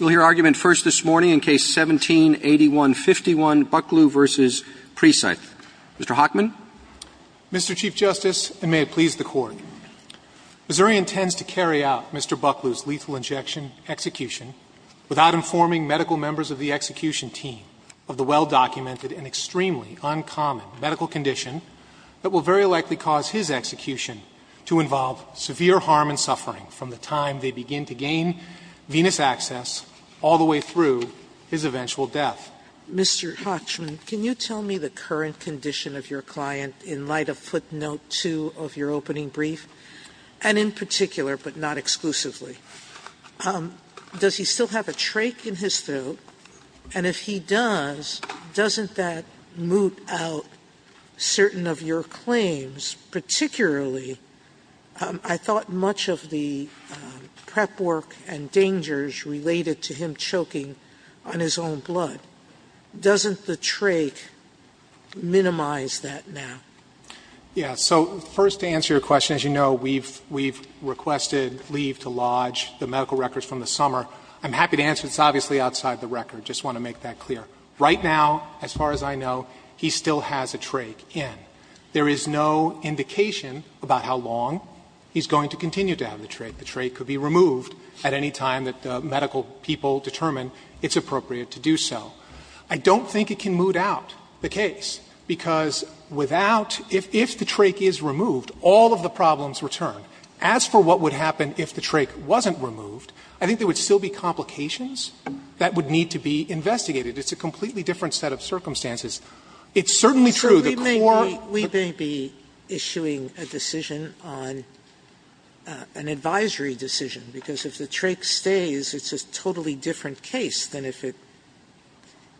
We'll hear argument first this morning in Case 17-8151, Bucklew v. Precythe. Mr. Hockman. Mr. Chief Justice, and may it please the Court, Missouri intends to carry out Mr. Bucklew's lethal injection execution without informing medical members of the execution team of the well-documented and extremely uncommon medical condition from the time they begin to gain venous access all the way through his eventual death. Mr. Hockman, can you tell me the current condition of your client in light of footnote 2 of your opening brief? And in particular, but not exclusively, does he still have a trach in his throat? And if he does, doesn't that moot out certain of your claims, particularly, I thought, much of the prep work and dangers related to him choking on his own blood? Doesn't the trach minimize that now? Yeah. So first to answer your question, as you know, we've requested leave to lodge the medical records from the summer. I'm happy to answer. It's obviously outside the record. Just want to make that clear. Right now, as far as I know, he still has a trach in. There is no indication about how long he's going to continue to have the trach. The trach could be removed at any time that the medical people determine it's appropriate to do so. I don't think it can moot out the case, because without, if the trach is removed, all of the problems return. As for what would happen if the trach wasn't removed, I think there would still be complications that would need to be investigated. It's a completely different set of circumstances. It's certainly true the core of the case is that the trach is removed. Sotomayor, we may be issuing a decision on, an advisory decision, because if the trach stays, it's a totally different case than if it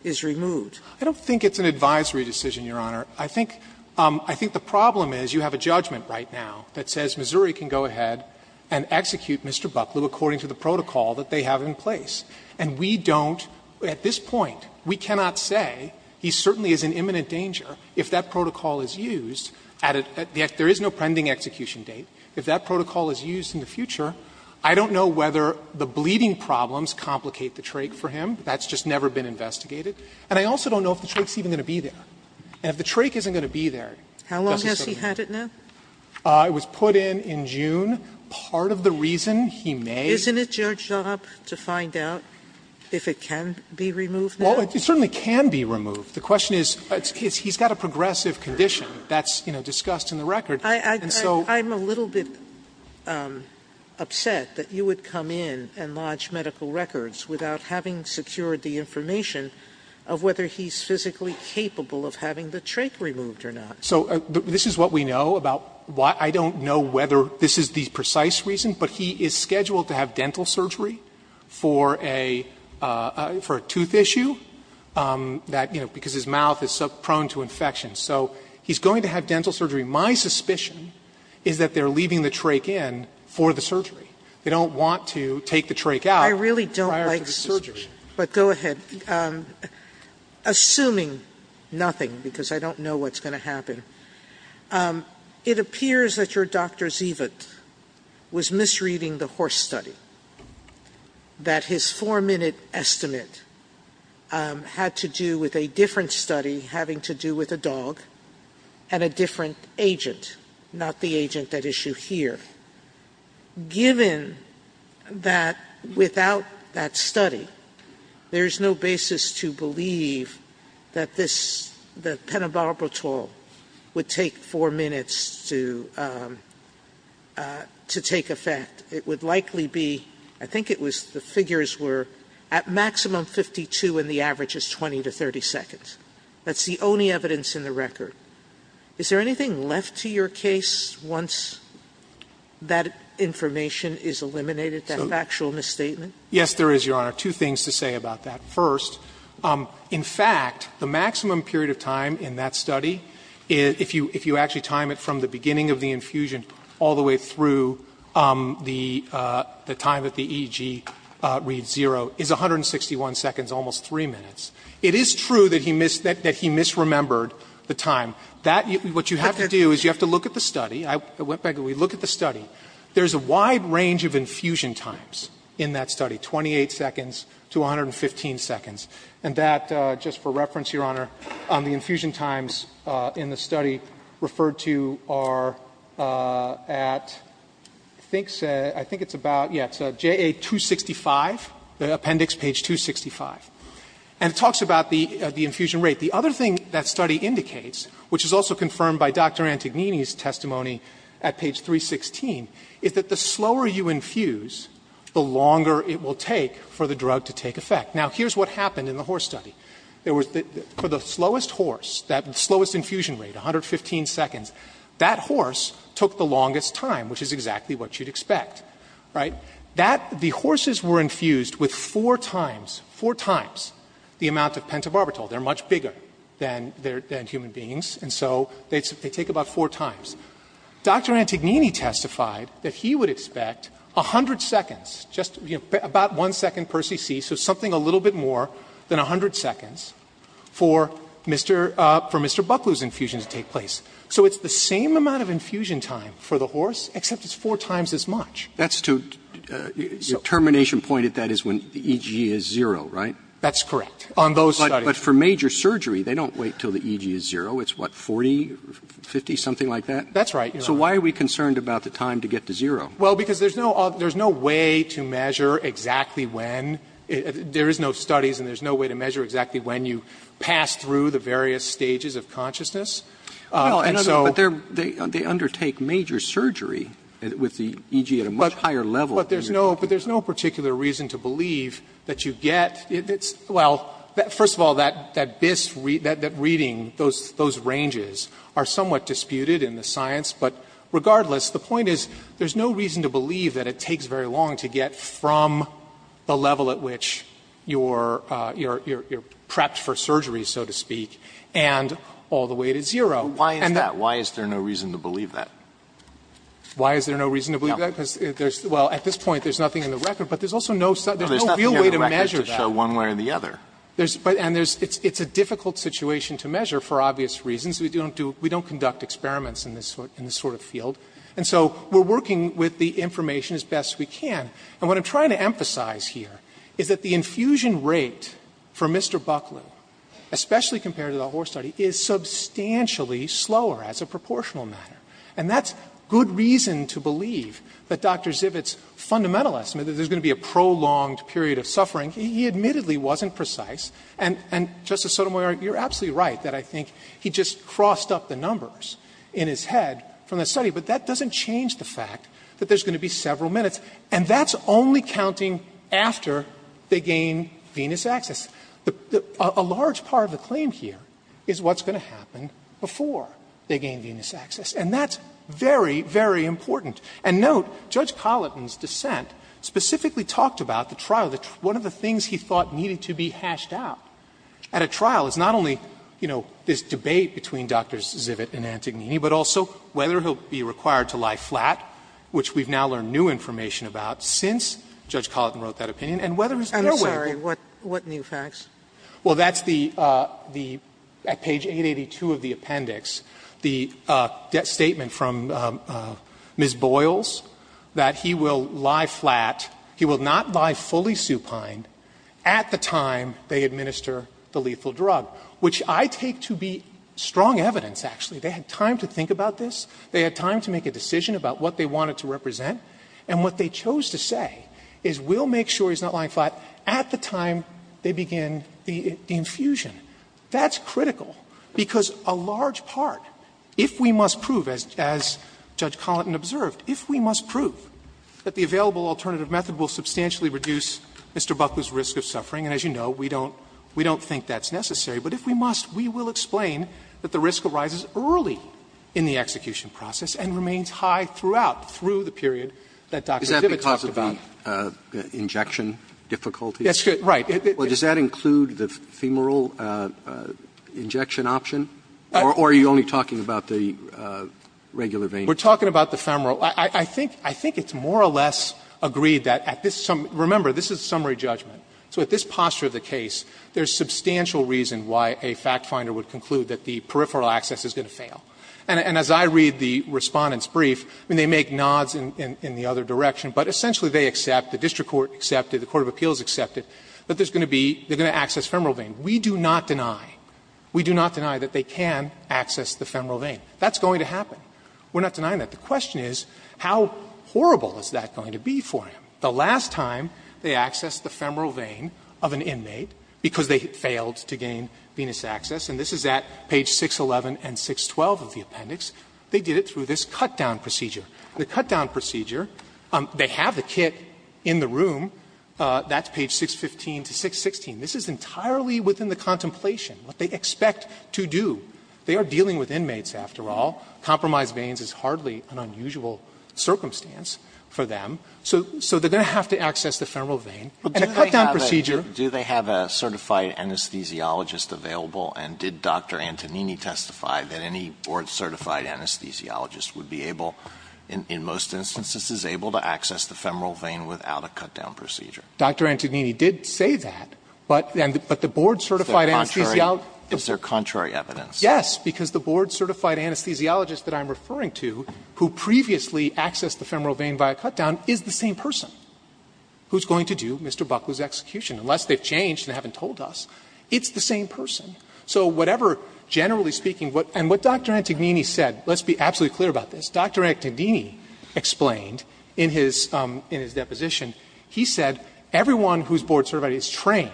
is removed. I don't think it's an advisory decision, Your Honor. I think the problem is you have a judgment right now that says Missouri can go ahead and execute Mr. Bucklew according to the protocol that they have in place. And we don't, at this point, we cannot say, he certainly is in imminent danger if that protocol is used at a, there is no pending execution date. If that protocol is used in the future, I don't know whether the bleeding problems complicate the trach for him. That's just never been investigated. And I also don't know if the trach is even going to be there. And if the trach isn't going to be there, it doesn't serve any purpose. Sotomayor. How long has he had it now? It was put in in June. Part of the reason he may. Isn't it your job to find out if it can be removed now? Well, it certainly can be removed. The question is, he's got a progressive condition. That's, you know, discussed in the record. And so. I'm a little bit upset that you would come in and lodge medical records without having secured the information of whether he's physically capable of having the trach removed or not. So this is what we know about, I don't know whether this is the precise reason, but he is scheduled to have dental surgery for a tooth issue, that, you know, because his mouth is prone to infection. So he's going to have dental surgery. My suspicion is that they're leaving the trach in for the surgery. They don't want to take the trach out prior to the surgery. I really don't like surgery. But go ahead. Assuming nothing, because I don't know what's going to happen. It appears that your Dr. Zivit was misreading the horse study. That his four-minute estimate had to do with a different study having to do with a dog and a different agent, not the agent at issue here. Given that without that study, there's no basis to believe that this, that would take four minutes to take effect. It would likely be, I think it was the figures were at maximum 52 and the average is 20 to 30 seconds. That's the only evidence in the record. Is there anything left to your case once that information is eliminated, that factual misstatement? Yes, there is, Your Honor. Two things to say about that. In fact, the maximum period of time in that study, if you actually time it from the beginning of the infusion all the way through the time that the EEG reads zero, is 161 seconds, almost three minutes. It is true that he misremembered the time. What you have to do is you have to look at the study. I went back and we looked at the study. There's a wide range of infusion times in that study. 28 seconds to 115 seconds. And that, just for reference, Your Honor, on the infusion times in the study referred to are at, I think it's about, yeah, it's JA-265, the appendix page 265. And it talks about the infusion rate. The other thing that study indicates, which is also confirmed by Dr. Antognini's Now, here's what happened in the horse study. For the slowest horse, that slowest infusion rate, 115 seconds, that horse took the longest time, which is exactly what you'd expect, right? The horses were infused with four times, four times the amount of pentobarbital. They're much bigger than human beings, and so they take about four times. Dr. Antognini testified that he would expect 100 seconds, just about one second per cc, so something a little bit more than 100 seconds for Mr. Buckley's infusion to take place. So it's the same amount of infusion time for the horse, except it's four times as much. That's to the termination point, if that is when the EG is zero, right? That's correct. On those studies. But for major surgery, they don't wait until the EG is zero. It's what, 40, 50, something like that? That's right. So why are we concerned about the time to get to zero? Well, because there's no way to measure exactly when. There is no studies, and there's no way to measure exactly when you pass through the various stages of consciousness. And so they undertake major surgery with the EG at a much higher level. But there's no particular reason to believe that you get, well, first of all, that this reading, that reading, those ranges are somewhat disputed in the science. But regardless, the point is there's no reason to believe that it takes very long to get from the level at which you're prepped for surgery, so to speak, and all the way to zero. Why is that? Why is there no reason to believe that? Why is there no reason to believe that? Because there's, well, at this point there's nothing in the record, but there's also no real way to measure that. No, there's nothing in the record to show one way or the other. And it's a difficult situation to measure for obvious reasons. We don't conduct experiments in this sort of field. And so we're working with the information as best we can. And what I'm trying to emphasize here is that the infusion rate for Mr. Bucklew, especially compared to the whole study, is substantially slower as a proportional matter. And that's good reason to believe that Dr. Zivit's fundamental estimate that there's going to be a prolonged period of suffering, he admittedly wasn't precise. And, Justice Sotomayor, you're absolutely right that I think he just crossed up the numbers in his head from the study. But that doesn't change the fact that there's going to be several minutes. And that's only counting after they gain venous access. A large part of the claim here is what's going to happen before they gain venous access. And that's very, very important. And note, Judge Colleton's dissent specifically talked about the trial. One of the things he thought needed to be hashed out at a trial is not only, you know, this debate between Drs. Zivit and Antognini, but also whether he'll be required to lie flat, which we've now learned new information about since Judge Colleton wrote that opinion, and whether he's going to wait. Sotomayor, what new facts? Well, that's the at page 882 of the appendix, the statement from Ms. Boyles that he will lie flat. He will not lie fully supine at the time they administer the lethal drug, which I take to be strong evidence, actually. They had time to think about this. They had time to make a decision about what they wanted to represent. And what they chose to say is we'll make sure he's not lying flat at the time they begin the infusion. That's critical, because a large part, if we must prove, as Judge Colleton observed, if we must prove that the available alternative method will substantially reduce Mr. Buckley's risk of suffering, and as you know, we don't think that's necessary, but if we must, we will explain that the risk arises early in the execution process and remains high throughout, through the period that Dr. Zivit talked about. Roberts Is that because of the injection difficulty? That's right. Well, does that include the femoral injection option, or are you only talking about the regular vein? We're talking about the femoral. I think it's more or less agreed that at this summary – remember, this is a summary judgment. So at this posture of the case, there's substantial reason why a fact finder would conclude that the peripheral access is going to fail. And as I read the Respondent's brief, I mean, they make nods in the other direction, but essentially they accept, the district court accepted, the court of appeals accepted, that there's going to be – they're going to access femoral vein. We do not deny, we do not deny that they can access the femoral vein. That's going to happen. We're not denying that. The question is, how horrible is that going to be for him? The last time they accessed the femoral vein of an inmate because they failed to gain venous access, and this is at page 611 and 612 of the appendix, they did it through this cutdown procedure. The cutdown procedure, they have the kit in the room. That's page 615 to 616. This is entirely within the contemplation, what they expect to do. They are dealing with inmates, after all. Compromised veins is hardly an unusual circumstance for them. So they're going to have to access the femoral vein. And a cutdown procedure. Alitoson Do they have a certified anesthesiologist available? And did Dr. Antonini testify that any board-certified anesthesiologist would be able, in most instances, is able to access the femoral vein without a cutdown procedure? Fisher Dr. Antonini did say that. But the board-certified anesthesiologist. Alitoson Is there contrary evidence? Fisher Yes, because the board-certified anesthesiologist that I'm referring to, who previously accessed the femoral vein by a cutdown, is the same person who's going to do Mr. Buckley's execution, unless they've changed and haven't told us. It's the same person. So whatever, generally speaking, and what Dr. Antonini said, let's be absolutely clear about this. Dr. Antonini explained in his deposition, he said everyone who's board-certified is trained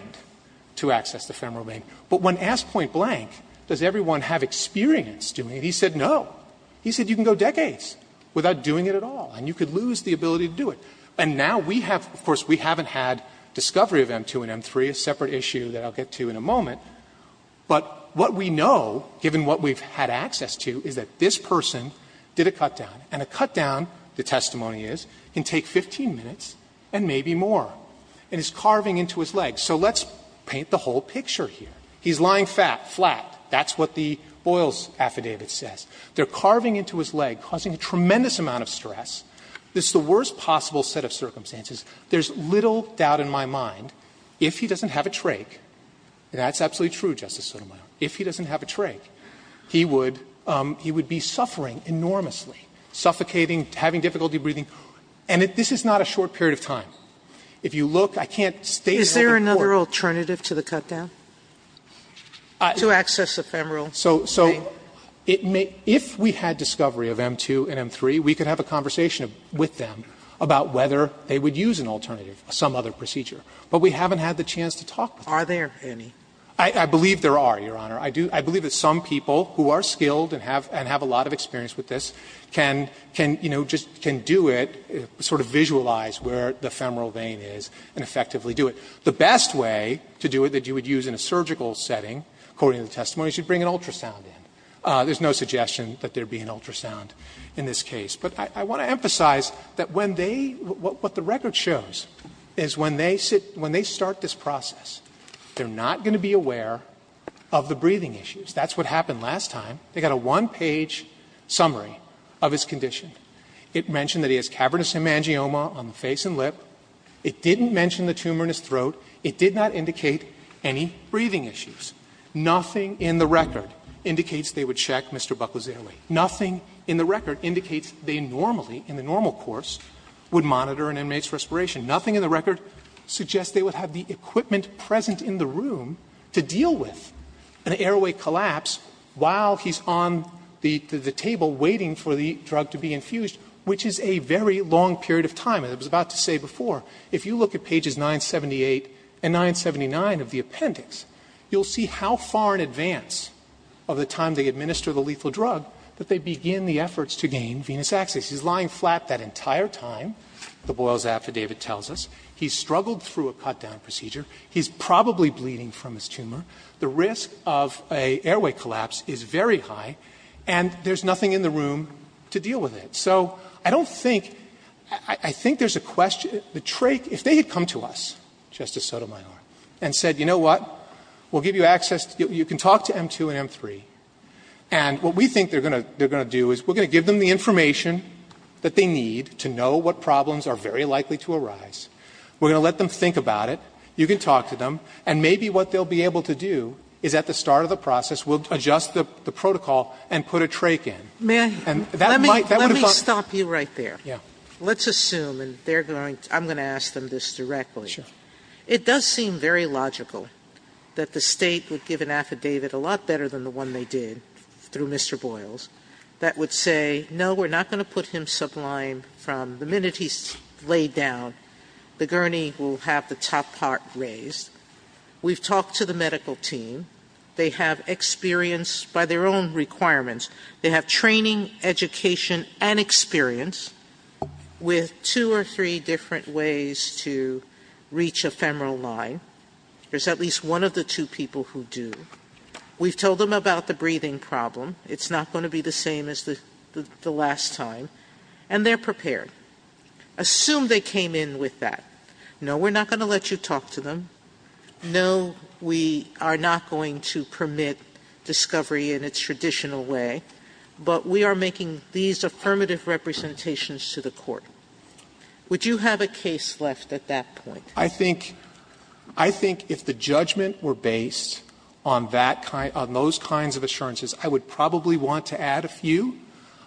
to access the femoral vein. But when asked point blank, does everyone have experience doing it, he said no. He said you can go decades without doing it at all. And you could lose the ability to do it. And now we have, of course, we haven't had discovery of M2 and M3, a separate issue that I'll get to in a moment. But what we know, given what we've had access to, is that this person did a cutdown. And a cutdown, the testimony is, can take 15 minutes and maybe more. And is carving into his leg. So let's paint the whole picture here. He's lying flat. That's what the Boyle's affidavit says. They're carving into his leg, causing a tremendous amount of stress. This is the worst possible set of circumstances. There's little doubt in my mind, if he doesn't have a trach, and that's absolutely true, Justice Sotomayor, if he doesn't have a trach, he would be suffering enormously, suffocating, having difficulty breathing. And this is not a short period of time. If you look, I can't state in open court. Sotomayor, is there another alternative to the cutdown? To access the femoral vein? So if we had discovery of M2 and M3, we could have a conversation with them about whether they would use an alternative, some other procedure. But we haven't had the chance to talk with them. Are there any? I believe there are, Your Honor. I believe that some people who are skilled and have a lot of experience with this can do it, sort of visualize where the femoral vein is and effectively do it. The best way to do it that you would use in a surgical setting, according to the testimony, is you'd bring an ultrasound in. There's no suggestion that there would be an ultrasound in this case. But I want to emphasize that when they, what the record shows is when they start this process, they're not going to be aware of the breathing issues. That's what happened last time. They got a one-page summary of his condition. It mentioned that he has cavernous hemangioma on the face and lip. It didn't mention the tumor in his throat. It did not indicate any breathing issues. Nothing in the record indicates they would check Mr. Buckley's airway. Nothing in the record indicates they normally, in the normal course, would monitor an inmate's respiration. Nothing in the record suggests they would have the equipment present in the room to deal with an airway collapse while he's on the table waiting for the drug to be infused, which is a very long period of time. And I was about to say before, if you look at pages 978 and 979 of the appendix, you'll see how far in advance of the time they administer the lethal drug that they begin the efforts to gain venous access. He's lying flat that entire time, the Boyle's affidavit tells us. He struggled through a cut-down procedure. He's probably bleeding from his tumor. The risk of an airway collapse is very high, and there's nothing in the room to deal with it. So I don't think, I think there's a question. If they had come to us, Justice Sotomayor, and said, you know what, we'll give you access, you can talk to M2 and M3, and what we think they're going to do is we're going to give them the information that they need to know what problems are very likely to arise. We're going to let them think about it. You can talk to them, and maybe what they'll be able to do is at the start of the process, we'll adjust the protocol and put a trach in. And that might, that would have helped. Sotomayor, let me stop you right there. Let's assume, and they're going to, I'm going to ask them this directly. It does seem very logical that the State would give an affidavit a lot better than the one they did through Mr. Boyle's that would say, no, we're not going to put him We've talked to the medical team. They have experience by their own requirements. They have training, education, and experience with two or three different ways to reach a femoral line. There's at least one of the two people who do. We've told them about the breathing problem. It's not going to be the same as the last time. And they're prepared. Assume they came in with that. No, we're not going to let you talk to them. No, we are not going to permit discovery in its traditional way. But we are making these affirmative representations to the Court. Would you have a case left at that point? I think, I think if the judgment were based on that kind, on those kinds of assurances, I would probably want to add a few.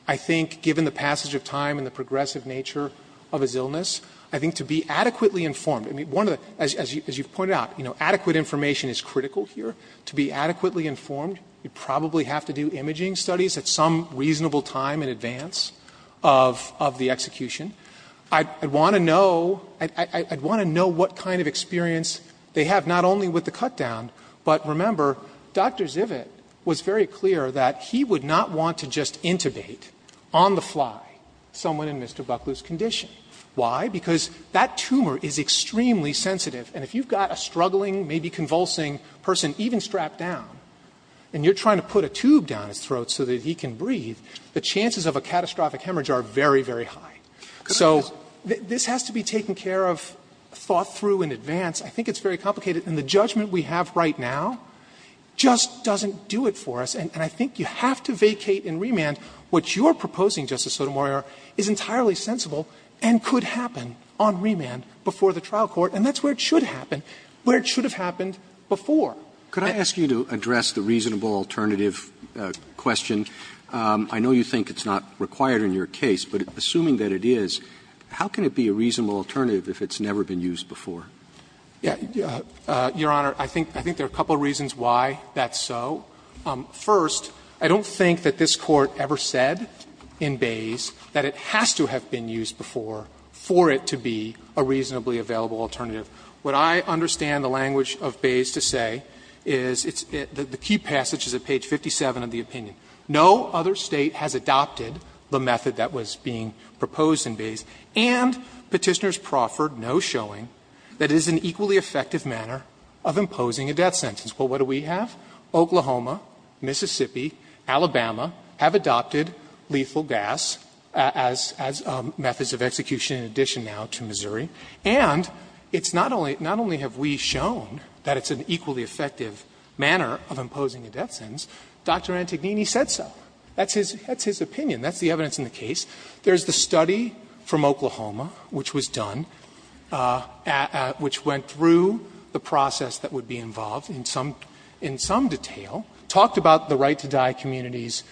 I think given the passage of time and the progressive nature of his illness, I think to be adequately informed, I mean, one of the, as you've pointed out, you know, adequate information is critical here. To be adequately informed, you probably have to do imaging studies at some reasonable time in advance of the execution. I'd want to know, I'd want to know what kind of experience they have not only with the cut down, but remember, Dr. Zivit was very clear that he would not want to just intubate on the fly someone in Mr. Buckley's condition. Why? Because that tumor is extremely sensitive. And if you've got a struggling, maybe convulsing person, even strapped down, and you're trying to put a tube down his throat so that he can breathe, the chances of a catastrophic hemorrhage are very, very high. So this has to be taken care of, thought through in advance. I think it's very complicated. And the judgment we have right now just doesn't do it for us. And I think you have to vacate and remand what you're proposing, Justice Sotomayor, is entirely sensible and could happen on remand before the trial court, and that's where it should happen, where it should have happened before. Roberts. Roberts. Could I ask you to address the reasonable alternative question? I know you think it's not required in your case, but assuming that it is, how can it be a reasonable alternative if it's never been used before? Yeah. Your Honor, I think there are a couple of reasons why that's so. First, I don't think that this Court ever said in Bays that it has to have been used before for it to be a reasonably available alternative. What I understand the language of Bays to say is the key passage is at page 57 of the opinion. No other State has adopted the method that was being proposed in Bays. And Petitioners proffered no showing that it is an equally effective manner of imposing a death sentence. Well, what do we have? Oklahoma, Mississippi, Alabama have adopted lethal gas as methods of execution in addition now to Missouri. And it's not only have we shown that it's an equally effective manner of imposing a death sentence, Dr. Antognini said so. That's his opinion. That's the evidence in the case. There's the study from Oklahoma which was done, which went through the process that would be involved in some detail, talked about the right-to-die community's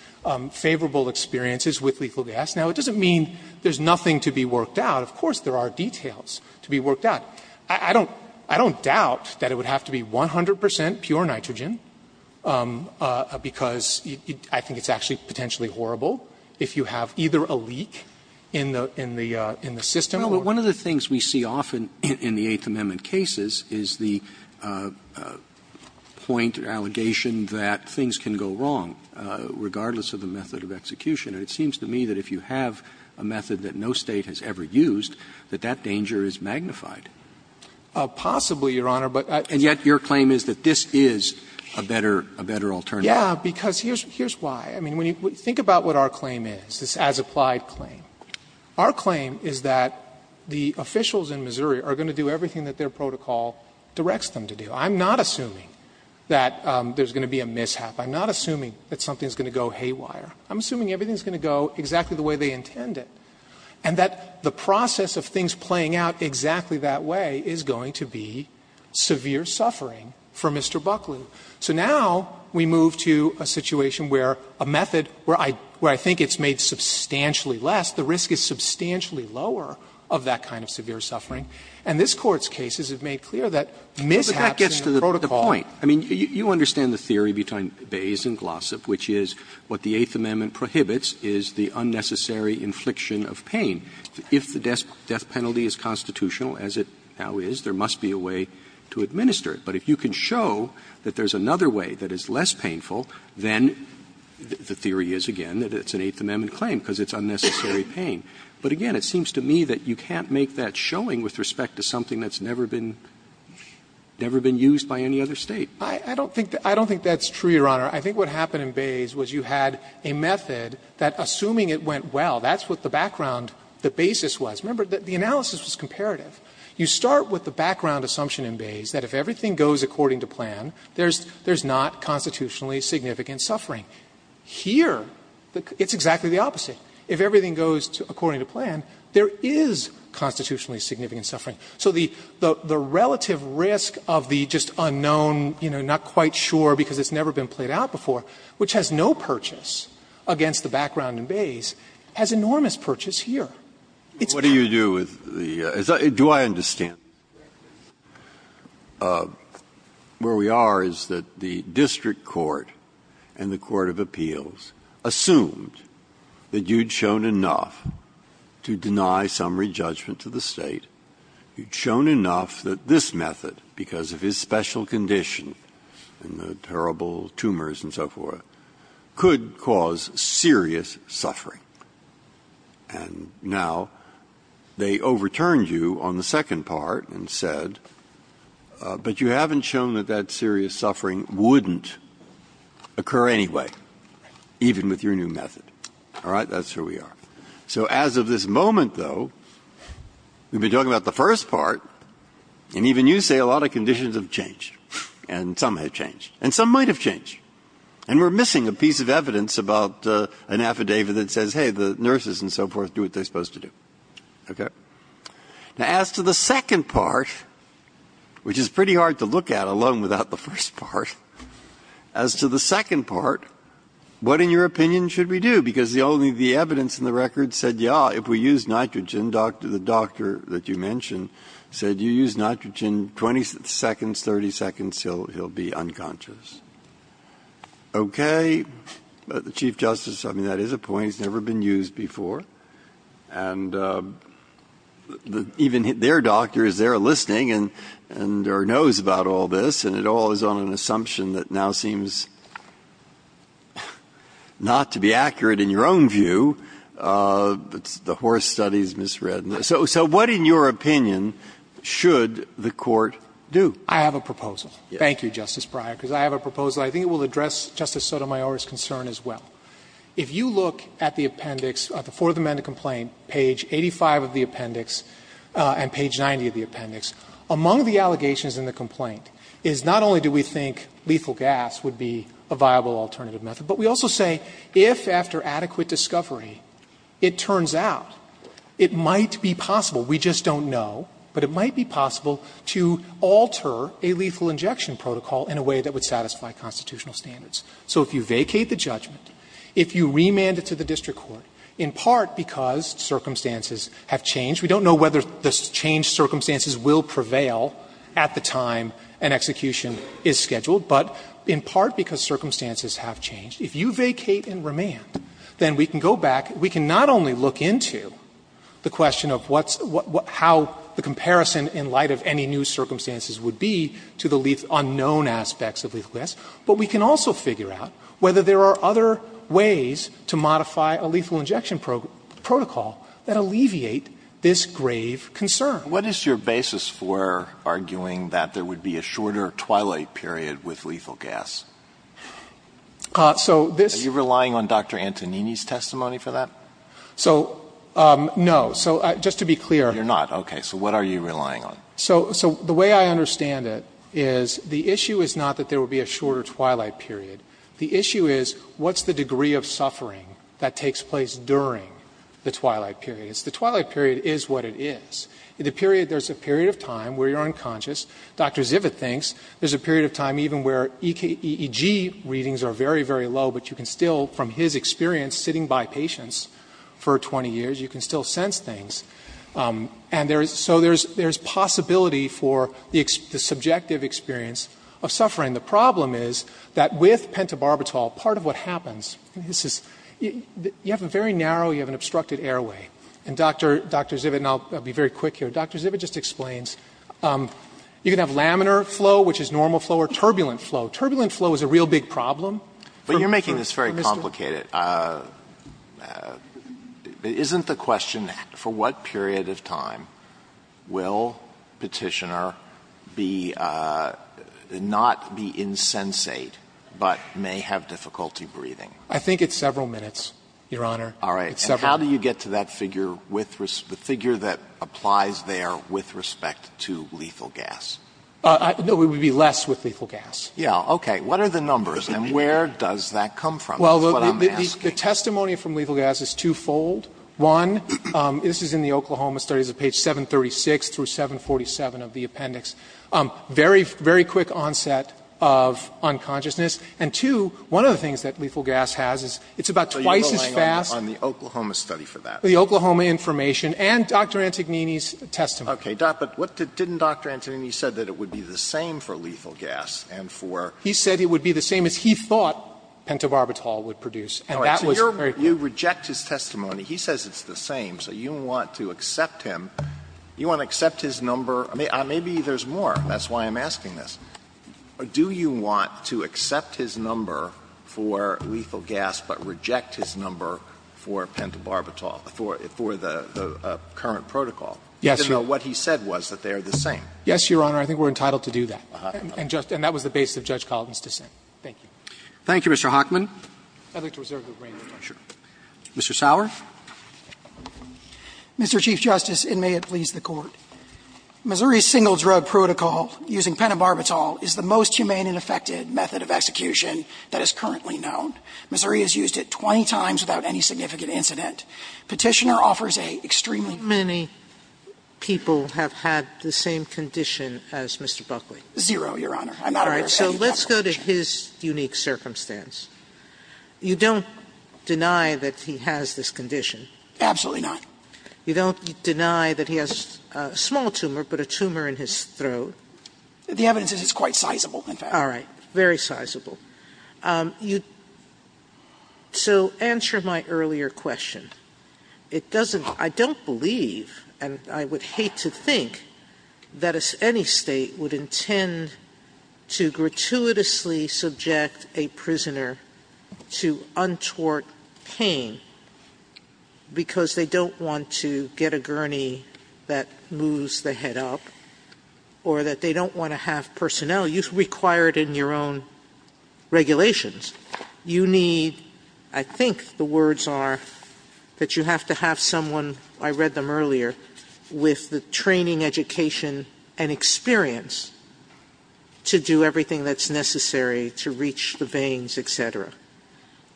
favorable experiences with lethal gas. Now, it doesn't mean there's nothing to be worked out. Of course, there are details to be worked out. I don't doubt that it would have to be 100 percent pure nitrogen because I think it's actually potentially horrible if you have either a leak in the system or. But one of the things we see often in the Eighth Amendment cases is the point or allegation that things can go wrong regardless of the method of execution. And it seems to me that if you have a method that no State has ever used, that that danger is magnified. Possibly, Your Honor, but I. And yet your claim is that this is a better, a better alternative. Yeah, because here's why. I mean, when you think about what our claim is, this as-applied claim, our claim is that the officials in Missouri are going to do everything that their protocol directs them to do. I'm not assuming that there's going to be a mishap. I'm not assuming that something's going to go haywire. I'm assuming everything's going to go exactly the way they intend it, and that the process of things playing out exactly that way is going to be severe suffering for Mr. Buckley. So now we move to a situation where a method where I think it's made substantially less, the risk is substantially lower of that kind of severe suffering. And this Court's cases have made clear that mishaps in the protocol. Roberts I mean, you understand the theory between Bayes and Glossop, which is what the Eighth Amendment prohibits is the unnecessary infliction of pain. If the death penalty is constitutional, as it now is, there must be a way to administer it. But if you can show that there's another way that is less painful, then the theory is, again, that it's an Eighth Amendment claim, because it's unnecessary pain. But, again, it seems to me that you can't make that showing with respect to something that's never been used by any other State. I don't think that's true, Your Honor. I think what happened in Bayes was you had a method that, assuming it went well, that's what the background, the basis was. Remember, the analysis was comparative. You start with the background assumption in Bayes that if everything goes according to plan, there's not constitutionally significant suffering. Here, it's exactly the opposite. If everything goes according to plan, there is constitutionally significant suffering. So the relative risk of the just unknown, you know, not quite sure because it's never been played out before, which has no purchase against the background in Bayes, has enormous purchase here. It's not. Breyer. What do you do with the as I do I understand where we are is that the district court and the court of appeals assumed that you'd shown enough to deny some re-judgment to the State. You'd shown enough that this method, because of his special condition and the terrible tumors and so forth, could cause serious suffering. And now they overturned you on the second part and said, but you haven't shown that that serious suffering wouldn't occur anyway, even with your new method. All right? That's where we are. So as of this moment, though, we've been talking about the first part, and even you say a lot of conditions have changed, and some have changed, and some might have changed. And we're missing a piece of evidence about an affidavit that says, hey, the nurses and so forth do what they're supposed to do. Okay? Now, as to the second part, which is pretty hard to look at alone without the first part, as to the second part, what, in your opinion, should we do? Because the evidence in the record said, yeah, if we use nitrogen, the doctor that you mentioned said, you use nitrogen 20 seconds, 30 seconds, he'll be unconscious. Okay. But the Chief Justice, I mean, that is a point that's never been used before. And even their doctor is there listening and or knows about all this, and it all is on an assumption that now seems not to be accurate in your own view. It's the horse studies misread. So what, in your opinion, should the Court do? I have a proposal. Thank you, Justice Breyer, because I have a proposal. I think it will address Justice Sotomayor's concern as well. If you look at the appendix, at the Fourth Amendment complaint, page 85 of the appendix and page 90 of the appendix, among the allegations in the complaint is not only do we think lethal gas would be a viable alternative method, but we also say if, after adequate discovery, it turns out it might be possible, we just don't know, but it might be possible to alter a lethal injection protocol in a way that would violate constitutional standards. So if you vacate the judgment, if you remand it to the district court, in part because circumstances have changed, we don't know whether the changed circumstances will prevail at the time an execution is scheduled, but in part because circumstances have changed, if you vacate and remand, then we can go back, we can not only look into the question of what's, how the comparison in light of any new circumstances would be to the unknown aspects of lethal gas, but we can also figure out whether there are other ways to modify a lethal injection protocol that alleviate this grave concern. Alito What is your basis for arguing that there would be a shorter twilight period with lethal gas? Are you relying on Dr. Antonini's testimony for that? So, no. So just to be clear. You're not. Okay. So what are you relying on? So, so the way I understand it is the issue is not that there will be a shorter twilight period. The issue is what's the degree of suffering that takes place during the twilight period. It's the twilight period is what it is. In the period, there's a period of time where you're unconscious. Dr. Zivit thinks there's a period of time even where EGE readings are very, very low, but you can still, from his experience, sitting by patients for 20 years, you can still sense things. And there is, so there's, there's possibility for the subjective experience of suffering. The problem is that with pentobarbital, part of what happens, this is, you have a very narrow, you have an obstructed airway. And Dr. Zivit, and I'll be very quick here, Dr. Zivit just explains, you can have laminar flow, which is normal flow, or turbulent flow. Turbulent flow is a real big problem. But you're making this very complicated. Isn't the question, for what period of time will Petitioner be, not be insensate, but may have difficulty breathing? I think it's several minutes, Your Honor. All right. And how do you get to that figure with, the figure that applies there with respect to lethal gas? No, it would be less with lethal gas. Yeah, okay. What are the numbers and where does that come from? Well, the testimony from lethal gas is twofold. One, this is in the Oklahoma studies of page 736 through 747 of the appendix. Very, very quick onset of unconsciousness. And two, one of the things that lethal gas has is, it's about twice as fast. So you're relying on the Oklahoma study for that? The Oklahoma information and Dr. Antognini's testimony. Okay. But what, didn't Dr. Antognini say that it would be the same for lethal gas and for He said it would be the same as he thought pentobarbital would produce. And that was very clear. You reject his testimony. He says it's the same. So you want to accept him, you want to accept his number. Maybe there's more. That's why I'm asking this. Do you want to accept his number for lethal gas, but reject his number for pentobarbital for the current protocol? Yes, Your Honor. Even though what he said was that they are the same. Yes, Your Honor. I think we're entitled to do that. And that was the basis of Judge Collins' dissent. Thank you. Thank you, Mr. Hockman. I'd like to reserve the remaining time. Mr. Sauer. Mr. Chief Justice, and may it please the Court, Missouri's single drug protocol using pentobarbital is the most humane and effective method of execution that is currently known. Missouri has used it 20 times without any significant incident. Petitioner offers a extremely Many people have had the same condition as Mr. Buckley. Zero, Your Honor. I'm not aware of any complications. All right. So let's go to his unique circumstance. You don't deny that he has this condition. Absolutely not. You don't deny that he has a small tumor, but a tumor in his throat. The evidence is it's quite sizable, in fact. All right. Very sizable. You so answer my earlier question. It doesn't – I don't believe, and I would hate to think, that any State would intend to gratuitously subject a prisoner to untoward pain because they don't want to get a gurney that moves the head up or that they don't want to have personnel. You require it in your own regulations. You need, I think the words are, that you have to have someone, I read them earlier, with the training, education, and experience to do everything that's necessary to reach the veins, et cetera.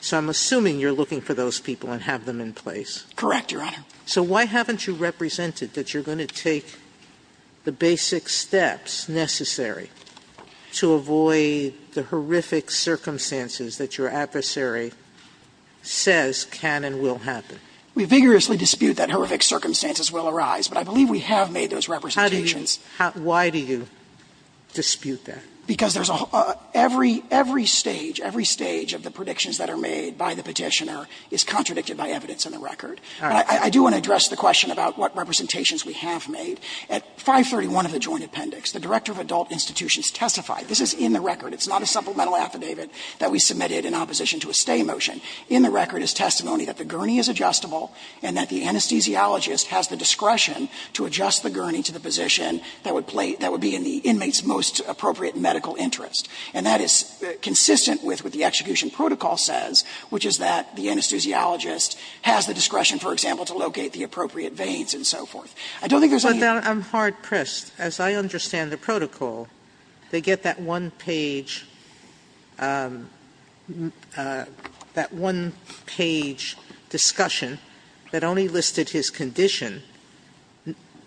So I'm assuming you're looking for those people and have them in place. Correct, Your Honor. So why haven't you represented that you're going to take the basic steps necessary to avoid the horrific circumstances that your adversary says can and will happen? We vigorously dispute that horrific circumstances will arise, but I believe we have made those representations. How do you – why do you dispute that? Because there's a – every stage, every stage of the predictions that are made by the Petitioner is contradicted by evidence in the record. All right. I do want to address the question about what representations we have made. At 531 of the Joint Appendix, the Director of Adult Institutions testified this is in the record. It's not a supplemental affidavit that we submitted in opposition to a stay motion. In the record is testimony that the gurney is adjustable and that the anesthesiologist has the discretion to adjust the gurney to the position that would play – that would be in the inmate's most appropriate medical interest. And that is consistent with what the execution protocol says, which is that the anesthesiologist has the discretion, for example, to locate the appropriate veins and so forth. I don't think there's any – But I'm hard-pressed. As I understand the protocol, they get that one-page – that one-page discussion that only listed his condition.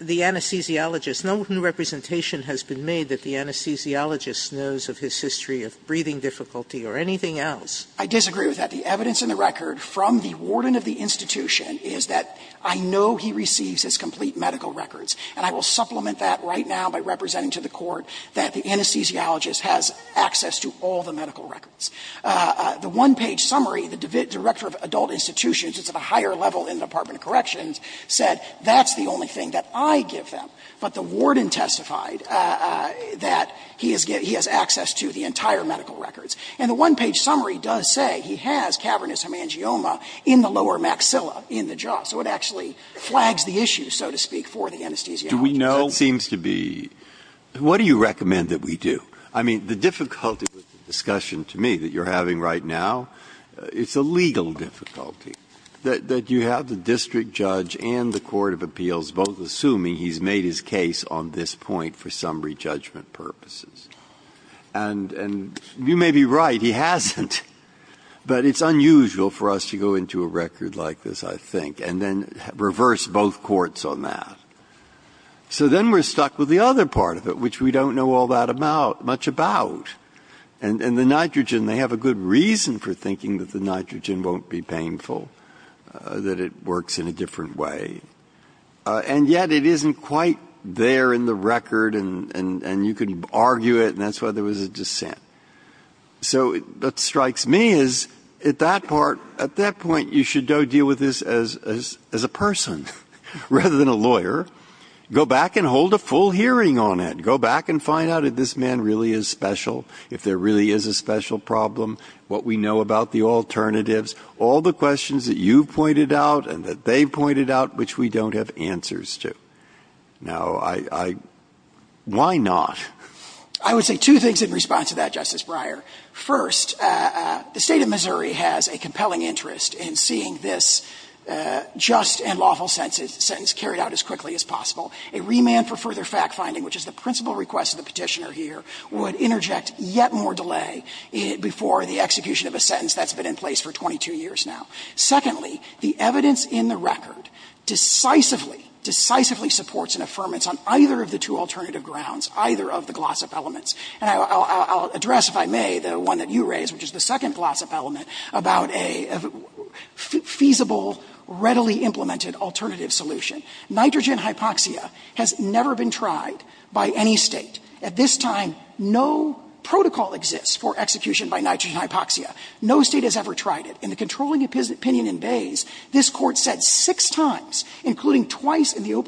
The anesthesiologist – no new representation has been made that the anesthesiologist knows of his history of breathing difficulty or anything else. I disagree with that. The evidence in the record from the warden of the institution is that I know he receives his complete medical records. And I will supplement that right now by representing to the Court that the anesthesiologist has access to all the medical records. The one-page summary, the Director of Adult Institutions, it's at a higher level in the Department of Corrections, said that's the only thing that I give them. But the warden testified that he has access to the entire medical records. And the one-page summary does say he has cavernous hemangioma in the lower maxilla in the jaw. So it actually flags the issue, so to speak, for the anesthesiologist. Breyer. Do we know? That seems to be – what do you recommend that we do? I mean, the difficulty with the discussion to me that you're having right now, it's a legal difficulty, that you have the district judge and the court of appeals both assuming he's made his case on this point for summary judgment purposes. And you may be right, he hasn't. But it's unusual for us to go into a record like this, I think. And then reverse both courts on that. So then we're stuck with the other part of it, which we don't know all that much about. And the nitrogen, they have a good reason for thinking that the nitrogen won't be painful, that it works in a different way. And yet it isn't quite there in the record, and you can argue it, and that's why there was a dissent. So what strikes me is at that part, at that point, you should deal with this as a district judge, as a person, rather than a lawyer. Go back and hold a full hearing on it. Go back and find out if this man really is special, if there really is a special problem, what we know about the alternatives, all the questions that you've pointed out and that they've pointed out, which we don't have answers to. Now I – why not? I would say two things in response to that, Justice Breyer. First, the State of Missouri has a compelling interest in seeing this just and lawful sentence carried out as quickly as possible. A remand for further fact-finding, which is the principal request of the Petitioner here, would interject yet more delay before the execution of a sentence that's been in place for 22 years now. Secondly, the evidence in the record decisively, decisively supports an affirmance on either of the two alternative grounds, either of the gloss-up elements. And I'll address, if I may, the one that you raised, which is the second gloss-up element about a feasible, readily implemented alternative solution. Nitrogen hypoxia has never been tried by any State. At this time, no protocol exists for execution by nitrogen hypoxia. No State has ever tried it. In the controlling opinion in Bays, this Court said six times, including twice in the that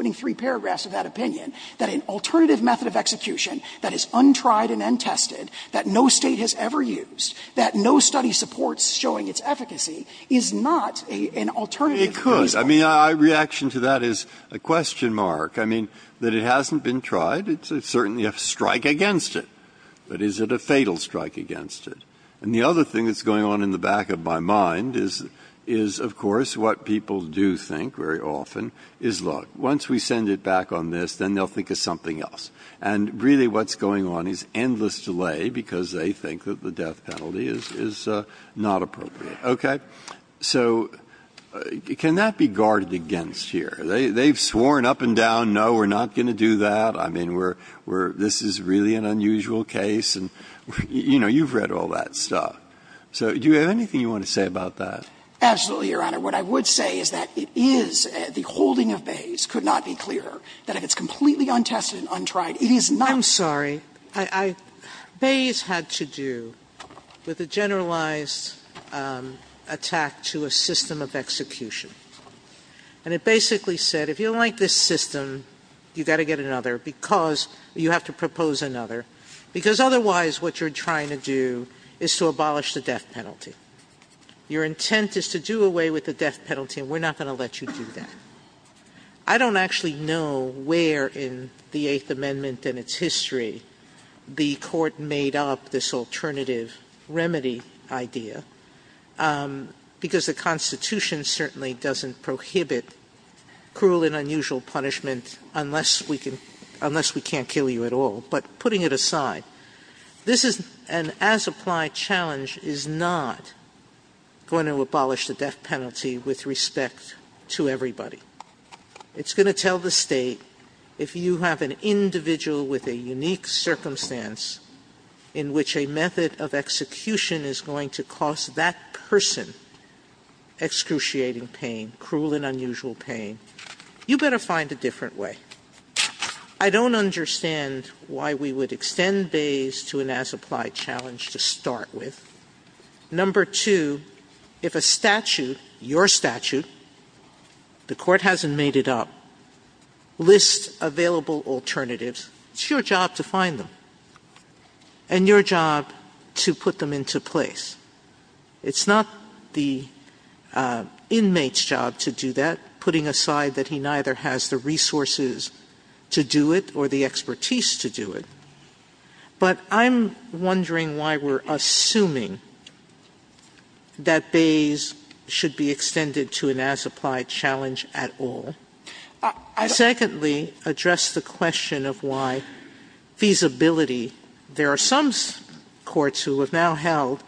is untried and untested, that no State has ever used, that no study supports showing its efficacy, is not an alternative to feasible. Breyer. I mean, my reaction to that is a question mark. I mean, that it hasn't been tried, it's certainly a strike against it. But is it a fatal strike against it? And the other thing that's going on in the back of my mind is, of course, what people do think very often is, look, once we send it back on this, then they'll think of something else. And really what's going on is endless delay, because they think that the death penalty is not appropriate, okay? So can that be guarded against here? They've sworn up and down, no, we're not going to do that. I mean, we're this is really an unusual case, and, you know, you've read all that stuff. So do you have anything you want to say about that? Absolutely, Your Honor. What I would say is that it is the holding of Bays could not be clearer that if it's I'm sorry, Bays had to do with a generalized attack to a system of execution. And it basically said, if you like this system, you've got to get another because you have to propose another, because otherwise what you're trying to do is to abolish the death penalty. Your intent is to do away with the death penalty, and we're not going to let you do that. I don't actually know where in the Eighth Amendment and its history the court made up this alternative remedy idea because the Constitution certainly doesn't prohibit cruel and unusual punishment unless we can unless we can't kill you at all. But putting it aside, this is an as applied challenge is not going to abolish the death penalty for everybody. It's going to tell the state if you have an individual with a unique circumstance in which a method of execution is going to cost that person excruciating pain, cruel and unusual pain, you better find a different way. I don't understand why we would extend Bays to an as applied challenge to start with. Number two, if a statute, your statute, the court hasn't made it up, lists available alternatives, it's your job to find them and your job to put them into place. It's not the inmate's job to do that, putting aside that he neither has the resources to do it or the expertise to do it. But I'm wondering why we're assuming that Bays should be extended to an as applied challenge at all. I secondly address the question of why feasibility, there are some courts who have now held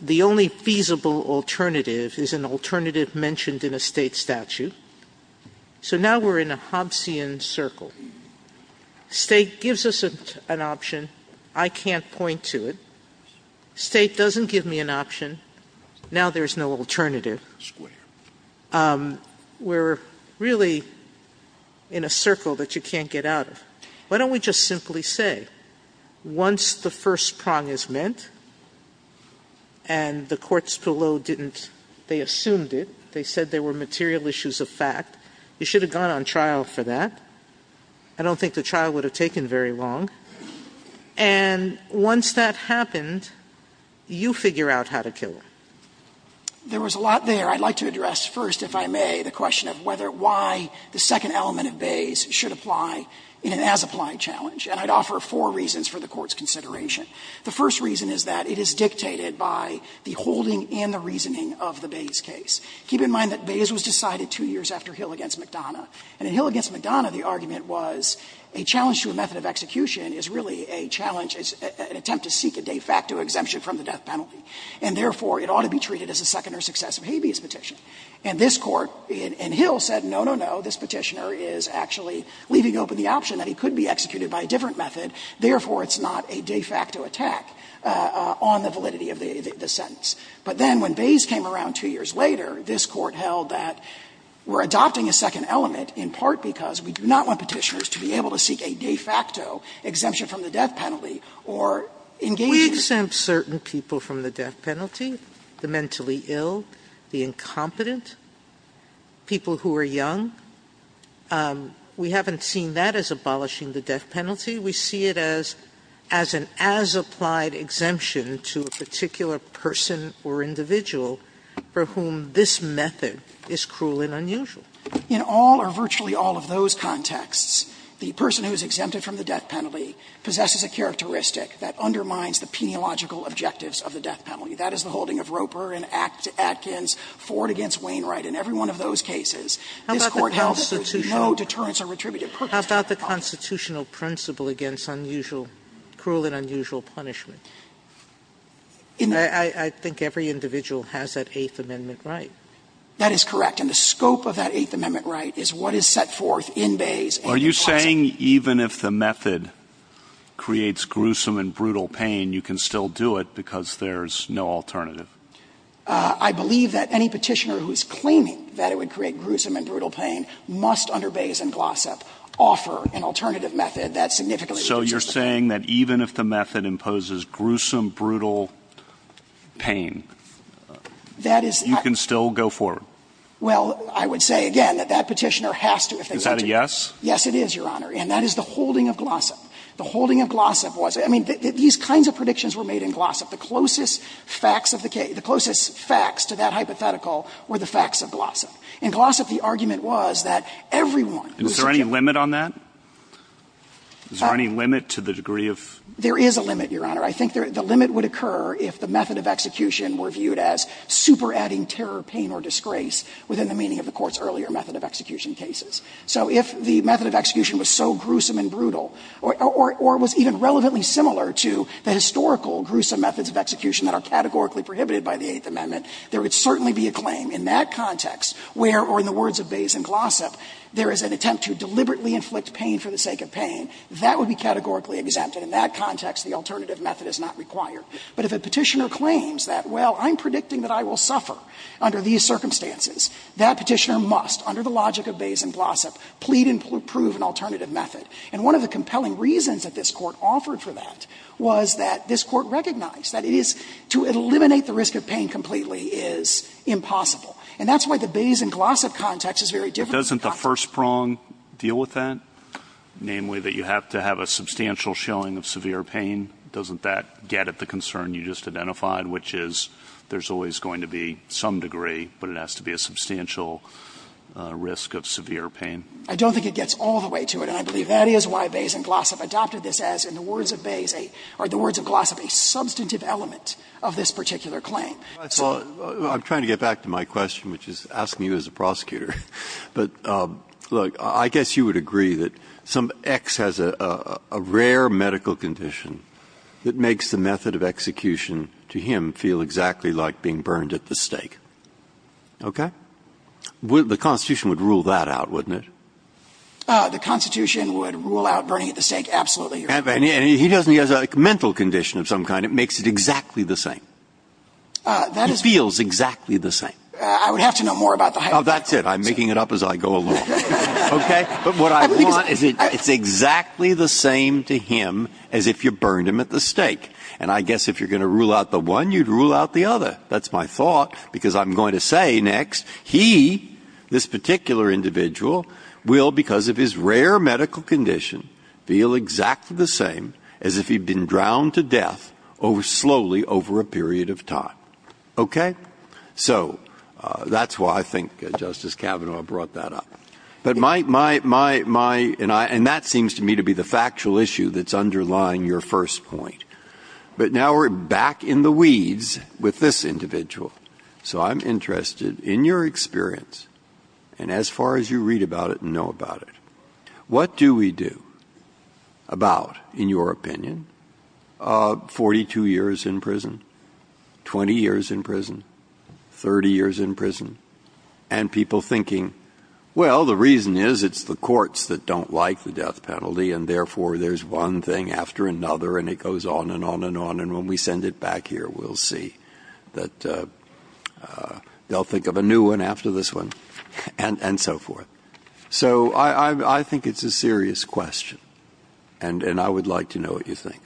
the only feasible alternative is an alternative mentioned in a state statute. So now we're in a Hobbesian circle. State gives us an option. I can't point to it. State doesn't give me an option. Now there's no alternative. We're really in a circle that you can't get out of. Why don't we just simply say once the first prong is meant and the courts below didn't they assumed it, they said there were material issues of fact, you should have gone on trial for that. I don't think the trial would have taken very long. And once that happened, you figure out how to kill him. There was a lot there. I'd like to address first, if I may, the question of whether why the second element of Bays should apply in an as applied challenge. And I'd offer four reasons for the Court's consideration. The first reason is that it is dictated by the holding and the reasoning of the Bays case. Keep in mind that Bays was decided two years after Hill v. McDonough. And in Hill v. McDonough, the argument was a challenge to a method of execution is really a challenge, an attempt to seek a de facto exemption from the death penalty. And therefore, it ought to be treated as a second or successive habeas petition. And this Court in Hill said, no, no, no, this Petitioner is actually leaving open the option that he could be executed by a different method, therefore it's not a de facto attack on the validity of the sentence. But then when Bays came around two years later, this Court held that we're adopting a second element in part because we do not want Petitioners to be able to seek a de facto exemption from the death penalty or engage in a. Sotomayor, We exempt certain people from the death penalty, the mentally ill, the incompetent, people who are young. We haven't seen that as abolishing the death penalty. We see it as an as applied exemption to a particular person or individual for whom this method is cruel and unusual. In all or virtually all of those contexts, the person who is exempted from the death penalty possesses a characteristic that undermines the peniological objectives of the death penalty. That is the holding of Roper and Atkins, Ford against Wainwright. In every one of those cases, this Court held that there was no deterrence or retributive purpose. Sotomayor, How about the constitutional principle against unusual, cruel and unusual punishment? I think every individual has that Eighth Amendment right. That is correct. And the scope of that Eighth Amendment right is what is set forth in Bayes and Glossop. Are you saying even if the method creates gruesome and brutal pain, you can still do it because there is no alternative? I believe that any Petitioner who is claiming that it would create gruesome and brutal pain must, under Bayes and Glossop, offer an alternative method that significantly reduces the pain. So you're saying that even if the method imposes gruesome, brutal pain, you can still go forward? Well, I would say, again, that that Petitioner has to, if they do. Is that a yes? Yes, it is, Your Honor. And that is the holding of Glossop. The holding of Glossop was – I mean, these kinds of predictions were made in Glossop. The closest facts of the case – the closest facts to that hypothetical were the facts of Glossop. In Glossop, the argument was that everyone who was accused of doing it would be killed. Is there any limit on that? Is there any limit to the degree of – There is a limit, Your Honor. I think the limit would occur if the method of execution were viewed as super-adding terror, pain, or disgrace within the meaning of the Court's earlier method of execution cases. So if the method of execution was so gruesome and brutal, or was even relevantly similar to the historical, gruesome methods of execution that are categorically prohibited by the Eighth Amendment, there would certainly be a claim in that context where, or in the words of Bays and Glossop, there is an attempt to deliberately inflict pain for the sake of pain. That would be categorically exempt, and in that context, the alternative method is not required. But if a Petitioner claims that, well, I'm predicting that I will suffer under these circumstances, that Petitioner must, under the logic of Bays and Glossop, plead and prove an alternative method. And one of the compelling reasons that this Court offered for that was that this Court recognized that it is, to eliminate the risk of pain completely is impossible. And that's why the Bays and Glossop context is very different. Doesn't the first prong deal with that, namely that you have to have a substantial shilling of severe pain? Doesn't that get at the concern you just identified, which is there's always going to be some degree, but it has to be a substantial risk of severe pain? I don't think it gets all the way to it. And I believe that is why Bays and Glossop adopted this as, in the words of Bays or the words of Glossop, a substantive element of this particular claim. So the question I'm trying to get back to my question, which is asking you as a prosecutor. But, look, I guess you would agree that some X has a rare medical condition. It makes the method of execution to him feel exactly like being burned at the stake. Okay? The Constitution would rule that out, wouldn't it? The Constitution would rule out burning at the stake. Absolutely. And he doesn't. He has a mental condition of some kind. It makes it exactly the same. That feels exactly the same. I would have to know more about the high. That's it. I'm making it up as I go along. Okay. But what I want is it's exactly the same to him as if you burned him at the stake. And I guess if you're going to rule out the one, you'd rule out the other. That's my thought, because I'm going to say next, he, this particular individual, will, because of his rare medical condition, feel exactly the same as if he'd been drowned to death slowly over a period of time. Okay? So that's why I think Justice Kavanaugh brought that up. But my, my, my, my, and I, and that seems to me to be the factual issue that's underlying your first point. But now we're back in the weeds with this individual. So I'm interested in your experience, and as far as you read about it and know about it, what do we do about, in your opinion, 42 years in prison, 20 years in prison, 30 years in prison, and people thinking, well, the reason is it's the courts that don't like the death penalty, and therefore there's one thing after another, and it goes on and on and on, and when we send it back here, we'll see that they'll think of a new one after this one, and, and so forth. So I, I, I think it's a serious question, and, and I would like to know what you think.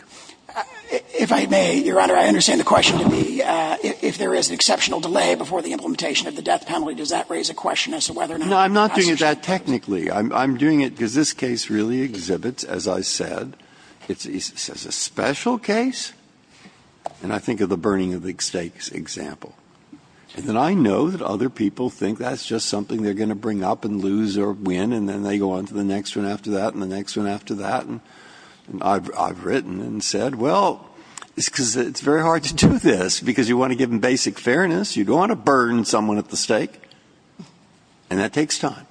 If I may, Your Honor, I understand the question to be if there is an exceptional delay before the implementation of the death penalty, does that raise a question as to whether or not the prosecution can do it? Breyer. No, I'm not doing it that technically. I'm, I'm doing it because this case really exhibits, as I said, it's, it's a special case, and I think of the burning of the stakes example, and then I know that other people think that's just something they're going to bring up and lose or win, and then they go on to the next one after that and the next one after that, and I've, I've written and said, well, it's because it's very hard to do this because you want to give them basic fairness, you don't want to burn someone at the stake, and that takes time.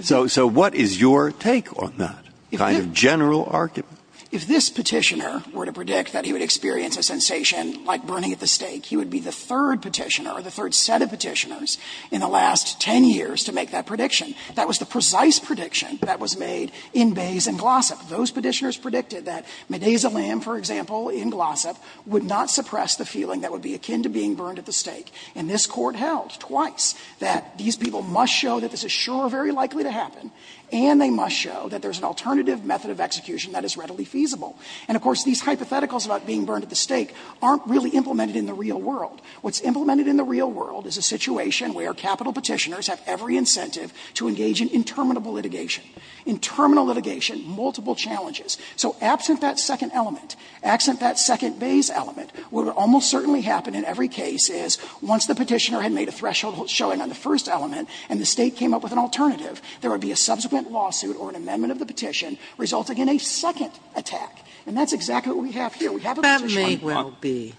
So, so what is your take on that kind of general argument? If this Petitioner were to predict that he would experience a sensation like burning at the stake, he would be the third Petitioner, or the third set of Petitioners in the last 10 years to make that prediction. That was the precise prediction that was made in Bays and Glossop. Those Petitioners predicted that medasolam, for example, in Glossop, would not suppress the feeling that would be akin to being burned at the stake, and this Court held twice that these people must show that this is sure very likely to happen, and they must show that there's an alternative method of execution that is readily feasible. And, of course, these hypotheticals about being burned at the stake aren't really implemented in the real world. What's implemented in the real world is a situation where capital Petitioners have every incentive to engage in interminable litigation, interminable litigation, multiple challenges. So absent that second element, absent that second Bays element, what would almost certainly happen in every case is once the Petitioner had made a threshold showing on the first element and the State came up with an alternative, there would be a subsequent lawsuit or an amendment of the petition resulting in a second attack. And that's exactly what we have here. We have a Petitioner on Glossop. Sotomayor,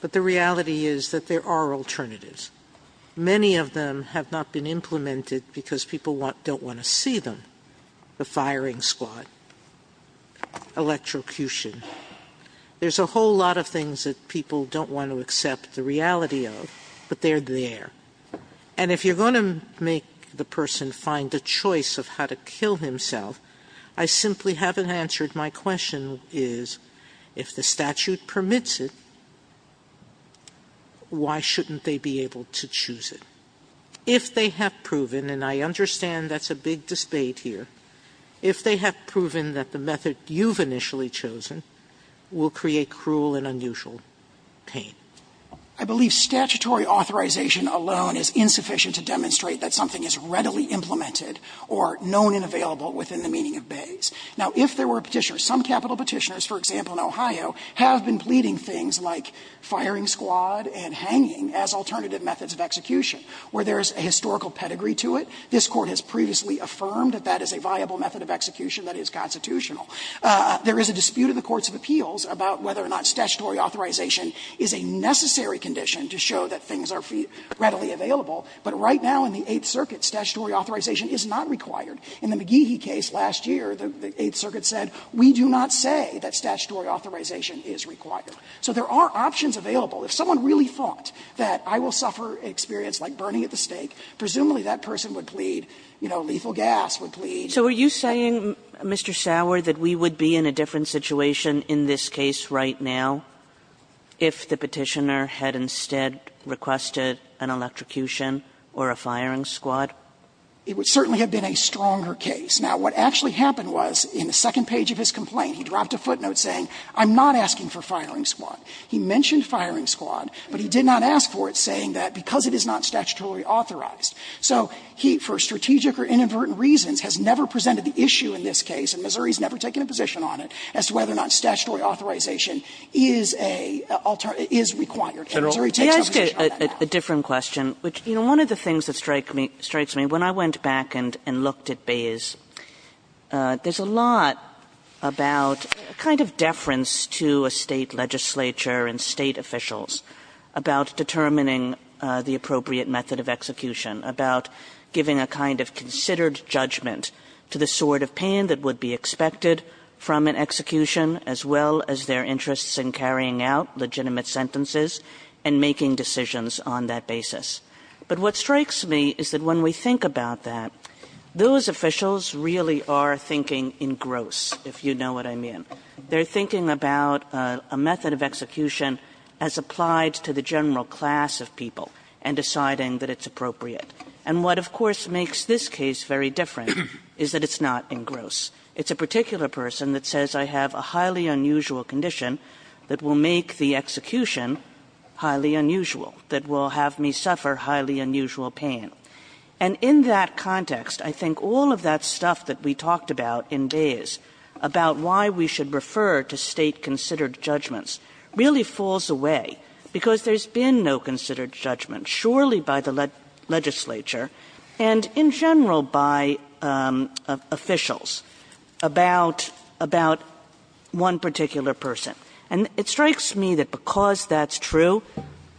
but the reality is that there are alternatives. Many of them have not been implemented because people don't want to see them. The firing squad, electrocution. There's a whole lot of things that people don't want to accept the reality of, but they're there. And if you're going to make the person find a choice of how to kill himself, I simply haven't answered my question is, if the statute permits it, why shouldn't they be able to choose it? If they have proven, and I understand that's a big dispate here, if they have proven that the method you've initially chosen will create cruel and unusual pain. I believe statutory authorization alone is insufficient to demonstrate that something is readily implemented or known and available within the meaning of Bays. Now, if there were Petitioners, some capital Petitioners, for example, in Ohio, have been pleading things like firing squad and hanging as alternative methods of execution, where there's a historical pedigree to it. This Court has previously affirmed that that is a viable method of execution that is constitutional. There is a dispute in the courts of appeals about whether or not statutory authorization is a necessary condition to show that things are readily available. But right now in the Eighth Circuit, statutory authorization is not required. In the McGehee case last year, the Eighth Circuit said, we do not say that statutory authorization is required. So there are options available. If someone really thought that I will suffer an experience like burning at the stake, presumably that person would plead, you know, lethal gas would plead. Kagan, So are you saying, Mr. Sauer, that we would be in a different situation in this case right now if the Petitioner had instead requested an electrocution or a firing squad? Sauer It would certainly have been a stronger case. Now, what actually happened was in the second page of his complaint, he dropped a footnote saying, I'm not asking for firing squad. He mentioned firing squad, but he did not ask for it, saying that because it is not statutorily authorized. So he, for strategic or inadvertent reasons, has never presented the issue in this case, and Missouri has never taken a position on it, as to whether or not statutory authorization is a alternative, is required. Kagan May I ask a different question, which, you know, one of the things that strikes me, when I went back and looked at Bayes, there's a lot about a kind of deference to a State legislature and State officials about determining the appropriate method of execution, about giving a kind of considered judgment to the sort of pain that would be expected from an execution, as well as their interests in carrying out legitimate sentences and making decisions on that basis. But what strikes me is that when we think about that, those officials really are thinking in gross, if you know what I mean. They're thinking about a method of execution as applied to the general class of people and deciding that it's appropriate. And what, of course, makes this case very different is that it's not in gross. It's a particular person that says I have a highly unusual condition that will make the execution highly unusual, that will have me suffer highly unusual pain. And in that context, I think all of that stuff that we talked about in Bayes, about why we should refer to State-considered judgments, really falls away, because there's been no considered judgment, surely by the legislature, and in general by officials, about one particular person. And it strikes me that because that's true,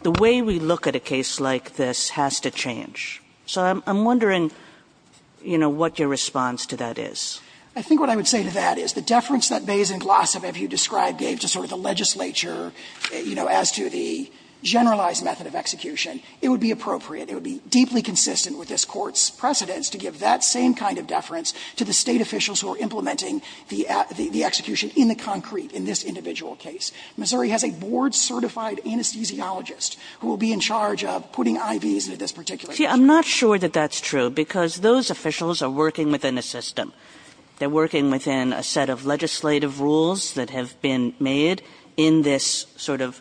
the way we look at a case like this has to change. So I'm wondering, you know, what your response to that is. I think what I would say to that is the deference that Bayes and Glossop, as you described, gave to sort of the legislature, you know, as to the generalized method of execution, it would be appropriate. It would be deeply consistent with this Court's precedence to give that same kind of deference to the State officials who are implementing the execution in the concrete in this individual case. Missouri has a board-certified anesthesiologist who will be in charge of putting IVs into this particular case. Kagan. See, I'm not sure that that's true, because those officials are working within a system. They're working within a set of legislative rules that have been made in this sort of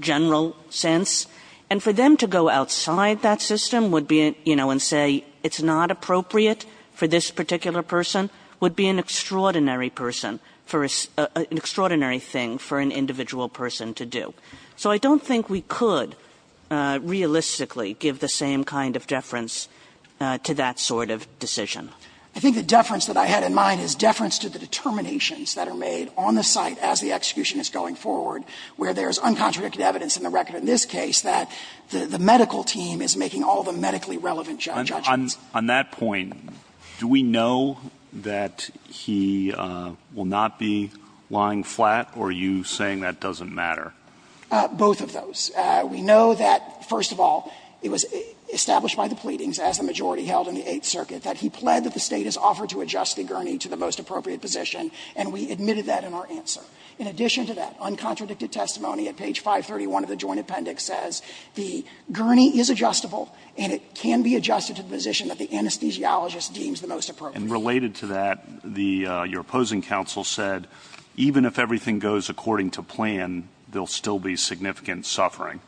general sense. And for them to go outside that system would be, you know, and say it's not appropriate for this particular person, would be an extraordinary person for an extraordinary thing for an individual person to do. So I don't think we could realistically give the same kind of deference to that sort of decision. I think the deference that I had in mind is deference to the determinations that are made on the site as the execution is going forward, where there is uncontradicted evidence in the record in this case that the medical team is making all the medically relevant judgments. On that point, do we know that he will not be lying flat, or are you saying that doesn't matter? Both of those. We know that, first of all, it was established by the pleadings, as the majority held in the Eighth Circuit, that he pled that the State has offered to adjust the gurney to the most appropriate position, and we admitted that in our answer. In addition to that, uncontradicted testimony at page 531 of the Joint Appendix says the gurney is adjustable and it can be adjusted to the position that the anesthesiologist deems the most appropriate. And related to that, the your opposing counsel said, even if everything goes according to plan, there will still be significant suffering.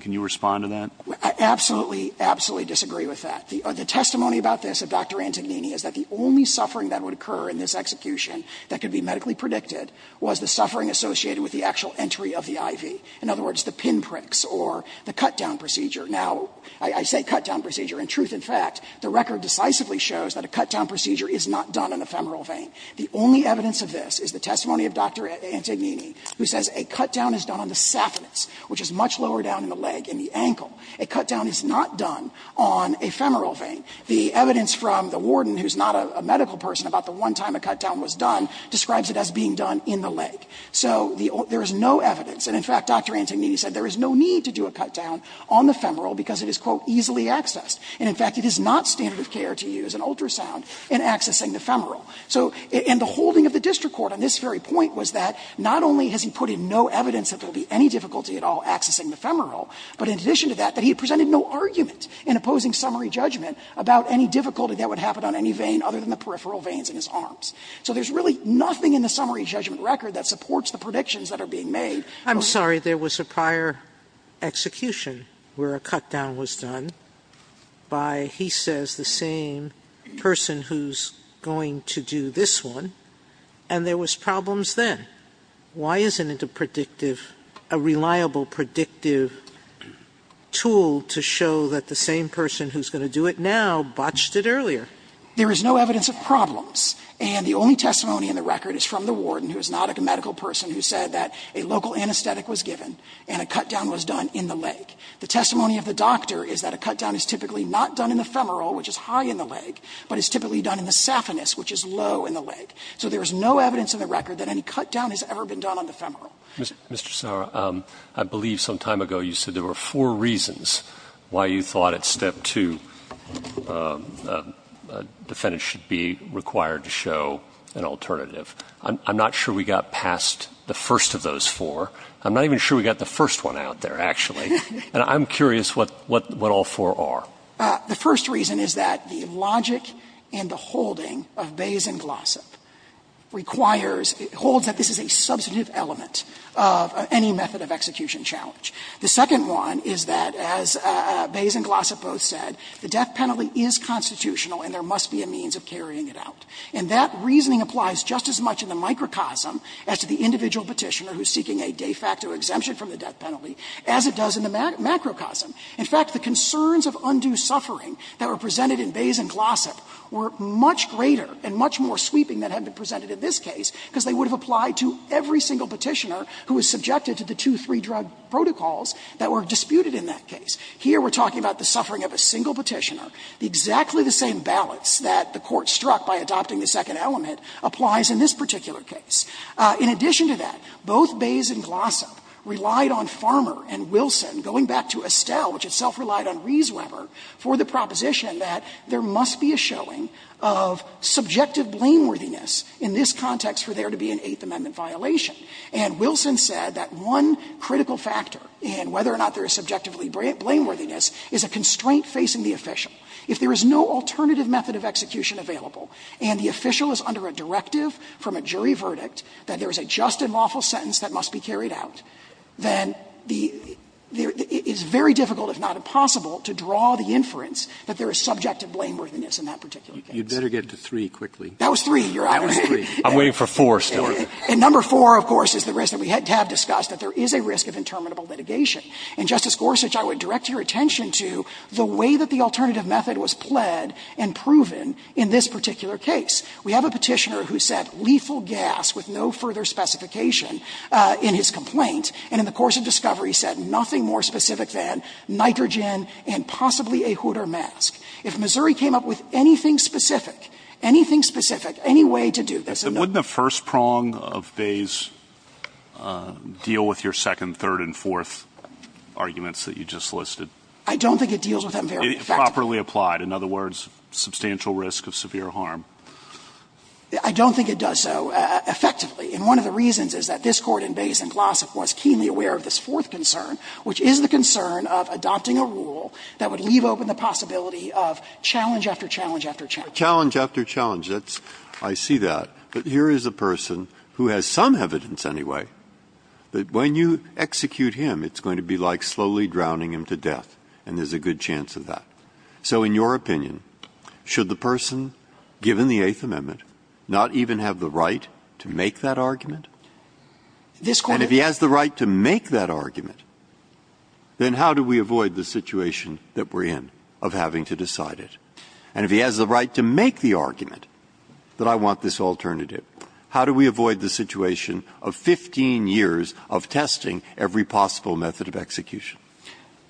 Can you respond to that? I absolutely, absolutely disagree with that. The testimony about this of Dr. Antognini is that the only suffering that would occur in this execution that could be medically predicted was the suffering associated with the actual entry of the IV. In other words, the pinpricks or the cutdown procedure. Now, I say cutdown procedure. In truth, in fact, the record decisively shows that a cutdown procedure is not done in ephemeral vein. The only evidence of this is the testimony of Dr. Antognini, who says a cutdown is done on the saphenous, which is much lower down in the leg, in the ankle. A cutdown is not done on ephemeral vein. The evidence from the warden, who is not a medical person, about the one time a cutdown was done describes it as being done in the leg. So there is no evidence, and in fact, Dr. Antognini said there is no need to do a cutdown on the femoral because it is, quote, easily accessed. And in fact, it is not standard of care to use an ultrasound in accessing the femoral. So in the holding of the district court on this very point was that not only has he put in no evidence that there will be any difficulty at all accessing the femoral, but in addition to that, that he presented no argument in opposing summary judgment about any difficulty that would happen on any vein other than the peripheral veins in his arms. So there is really nothing in the summary judgment record that supports the predictions that are being made. Sotomayor, I'm sorry, there was a prior execution where a cutdown was done by, he was going to do this one, and there was problems then. Why isn't it a predictive, a reliable predictive tool to show that the same person who is going to do it now botched it earlier? There is no evidence of problems. And the only testimony in the record is from the warden, who is not a medical person, who said that a local anesthetic was given and a cutdown was done in the leg. The testimony of the doctor is that a cutdown is typically not done in the femoral, which is high in the leg, but is typically done in the saphenous, which is low in the leg. So there is no evidence in the record that any cutdown has ever been done on the femoral. Mr. Sotomayor, I believe some time ago you said there were four reasons why you thought at step two a defendant should be required to show an alternative. I'm not sure we got past the first of those four. I'm not even sure we got the first one out there, actually. And I'm curious what all four are. So the first reason is that the logic and the holding of Bays and Glossop requires or holds that this is a substantive element of any method of execution challenge. The second one is that, as Bays and Glossop both said, the death penalty is constitutional and there must be a means of carrying it out. And that reasoning applies just as much in the microcosm as to the individual Petitioner who is seeking a de facto exemption from the death penalty as it does in the macrocosm. In fact, the concerns of undue suffering that were presented in Bays and Glossop were much greater and much more sweeping than had been presented in this case because they would have applied to every single Petitioner who was subjected to the two, three drug protocols that were disputed in that case. Here we're talking about the suffering of a single Petitioner. Exactly the same balance that the Court struck by adopting the second element applies in this particular case. In addition to that, both Bays and Glossop relied on Farmer and Wilson going back to Estelle, which itself relied on Riesweber, for the proposition that there must be a showing of subjective blameworthiness in this context for there to be an Eighth Amendment violation. And Wilson said that one critical factor in whether or not there is subjectively blameworthiness is a constraint facing the official. If there is no alternative method of execution available and the official is under a directive from a jury verdict that there is a just and lawful sentence that must be carried out, then the – it's very difficult, if not impossible, to draw the inference that there is subjective blameworthiness in that particular case. Roberts. You'd better get to three quickly. That was three, Your Honor. That was three. I'm waiting for four still. And number four, of course, is the risk that we have discussed, that there is a risk of interminable litigation. And, Justice Gorsuch, I would direct your attention to the way that the alternative method was pled and proven in this particular case. We have a Petitioner who said lethal gas with no further specification in his complaint, and in the course of discovery said nothing more specific than nitrogen and possibly a hood or mask. If Missouri came up with anything specific, anything specific, any way to do this in the – But wouldn't the first prong of Bayes deal with your second, third, and fourth arguments that you just listed? I don't think it deals with them very effectively. It properly applied. In other words, substantial risk of severe harm. I don't think it does so effectively. And one of the reasons is that this Court in Bayes and Glossop was keenly aware of this fourth concern, which is the concern of adopting a rule that would leave open the possibility of challenge after challenge after challenge. Challenge after challenge. That's – I see that. But here is a person who has some evidence anyway that when you execute him, it's going to be like slowly drowning him to death, and there's a good chance of that. So in your opinion, should the person, given the Eighth Amendment, not even have the right to make that argument? This Court – And if he has the right to make that argument, then how do we avoid the situation that we're in of having to decide it? And if he has the right to make the argument that I want this alternative, how do we avoid the situation of 15 years of testing every possible method of execution?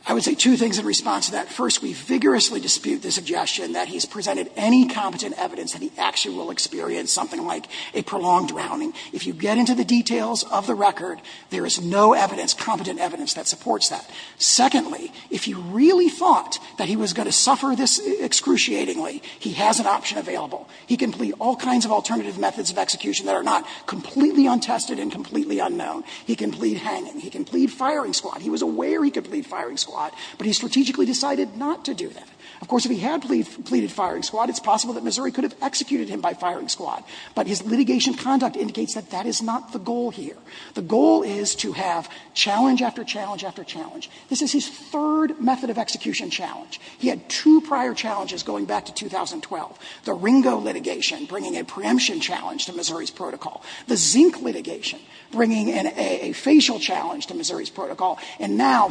I would say two things in response to that. First, we vigorously dispute the suggestion that he's presented any competent evidence that he actually will experience something like a prolonged drowning. If you get into the details of the record, there is no evidence, competent evidence, that supports that. Secondly, if he really thought that he was going to suffer this excruciatingly, he has an option available. He can plead all kinds of alternative methods of execution that are not completely untested and completely unknown. He can plead hanging. He can plead firing squad. He was aware he could plead firing squad, but he strategically decided not to do that. Of course, if he had pleaded firing squad, it's possible that Missouri could have executed him by firing squad. But his litigation conduct indicates that that is not the goal here. The goal is to have challenge after challenge after challenge. This is his third method of execution challenge. He had two prior challenges going back to 2012, the Ringo litigation bringing a preemption challenge to Missouri's protocol, the Zink litigation bringing a facial challenge to Missouri's protocol, and now,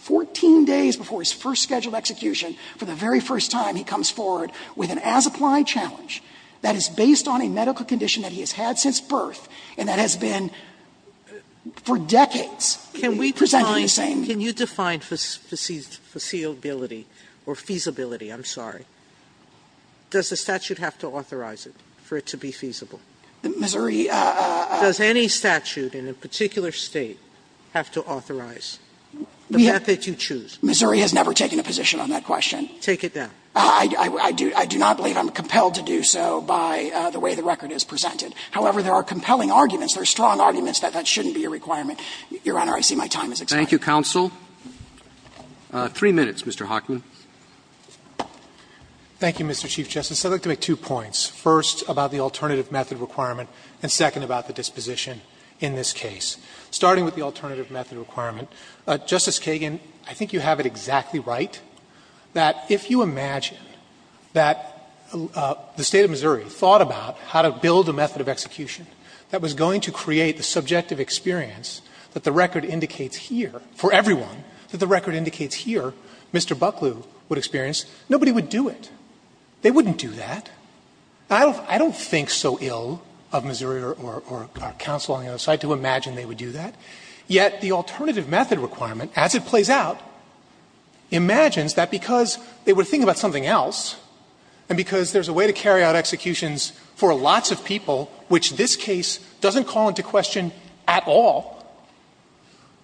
14 days before his first scheduled execution, for the very first time, he comes forward with an as-applied challenge that is based on a medical condition that he has had since birth and that has been for decades presented the same. Sotomayor, can you define the feasibility or feasibility? I'm sorry. Does the statute have to authorize it for it to be feasible? Missouri does any statute in a particular State. Have to authorize the method you choose? Missouri has never taken a position on that question. Take it down. I do not believe I'm compelled to do so by the way the record is presented. However, there are compelling arguments, there are strong arguments that that shouldn't be a requirement. Your Honor, I see my time is expiring. Thank you, counsel. Three minutes, Mr. Hockman. Thank you, Mr. Chief Justice. I'd like to make two points, first, about the alternative method requirement and, second, about the disposition in this case. Starting with the alternative method requirement, Justice Kagan, I think you have it exactly right that if you imagine that the State of Missouri thought about how to build a method of execution that was going to create the subjective experience that the record indicates here for everyone, that the record indicates here Mr. Bucklew would experience, nobody would do it. They wouldn't do that. I don't think so ill of Missouri or counsel on the other side to imagine they would do that, yet the alternative method requirement, as it plays out, imagines that because they were thinking about something else and because there's a way to carry out executions for lots of people, which this case doesn't call into question at all,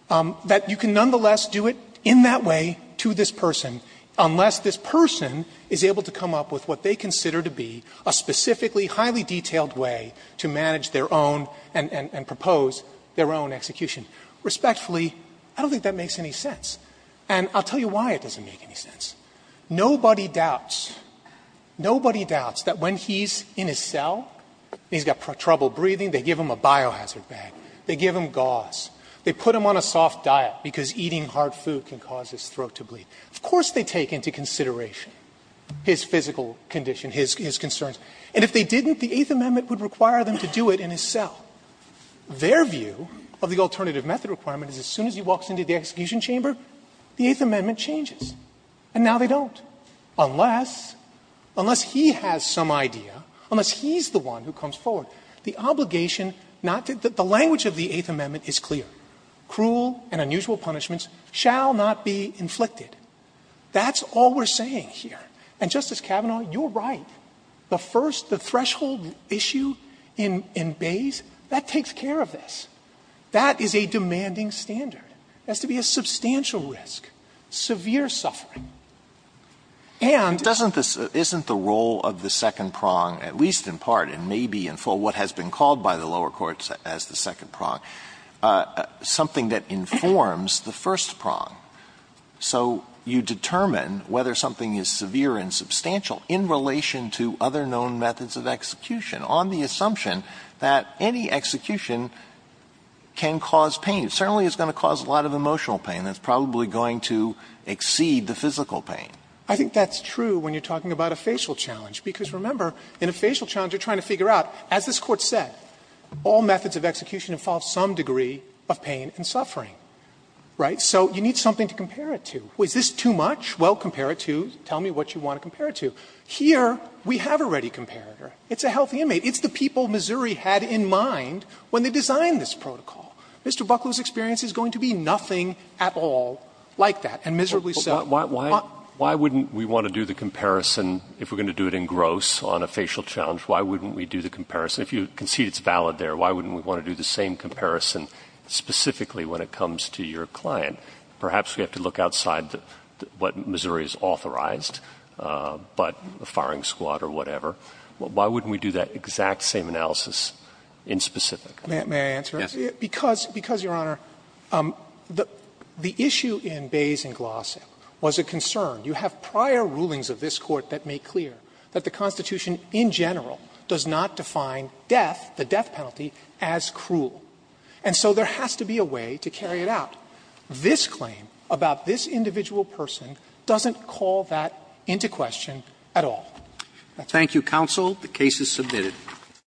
that you can nonetheless do it in that way to this person, unless this person is able to come up with what they consider to be a specifically highly detailed way to manage their own and propose their own execution. Respectfully, I don't think that makes any sense. And I'll tell you why it doesn't make any sense. Nobody doubts, nobody doubts that when he's in his cell and he's got trouble breathing, they give him a biohazard bag. They give him gauze. They put him on a soft diet because eating hard food can cause his throat to bleed. Of course they take into consideration his physical condition, his concerns. And if they didn't, the Eighth Amendment would require them to do it in his cell. Their view of the alternative method requirement is as soon as he walks into the execution chamber, the Eighth Amendment changes. And now they don't, unless, unless he has some idea, unless he's the one who comes forward. The obligation not to do it. The language of the Eighth Amendment is clear. Cruel and unusual punishments shall not be inflicted. That's all we're saying here. And, Justice Kavanaugh, you're right. The first, the threshold issue in Bayes, that takes care of this. That is a demanding standard. It has to be a substantial risk, severe suffering. And it doesn't, isn't the role of the second prong, at least in part and maybe in full what has been called by the lower courts as the second prong, something that informs the first prong. So you determine whether something is severe and substantial in relation to other known methods of execution on the assumption that any execution can cause pain. It certainly is going to cause a lot of emotional pain. It's probably going to exceed the physical pain. I think that's true when you're talking about a facial challenge, because remember, in a facial challenge you're trying to figure out, as this Court said, all methods of execution involve some degree of pain and suffering, right? So you need something to compare it to. Is this too much? Well, compare it to, tell me what you want to compare it to. Here, we have a ready comparator. It's a healthy inmate. It's the people Missouri had in mind when they designed this protocol. Mr. Buckley's experience is going to be nothing at all like that, and miserably so. But why wouldn't we want to do the comparison, if we're going to do it in gross on a facial challenge, why wouldn't we do the comparison? If you concede it's valid there, why wouldn't we want to do the same comparison specifically when it comes to your client? Perhaps we have to look outside what Missouri has authorized, but a firing squad or whatever. Why wouldn't we do that exact same analysis in specific? May I answer? Yes. Because, Your Honor, the issue in Bays and Glossop was a concern. You have prior rulings of this Court that make clear that the Constitution in general does not define death, the death penalty, as cruel. And so there has to be a way to carry it out. This claim about this individual person doesn't call that into question at all. That's all. Roberts. Thank you, counsel. The case is submitted.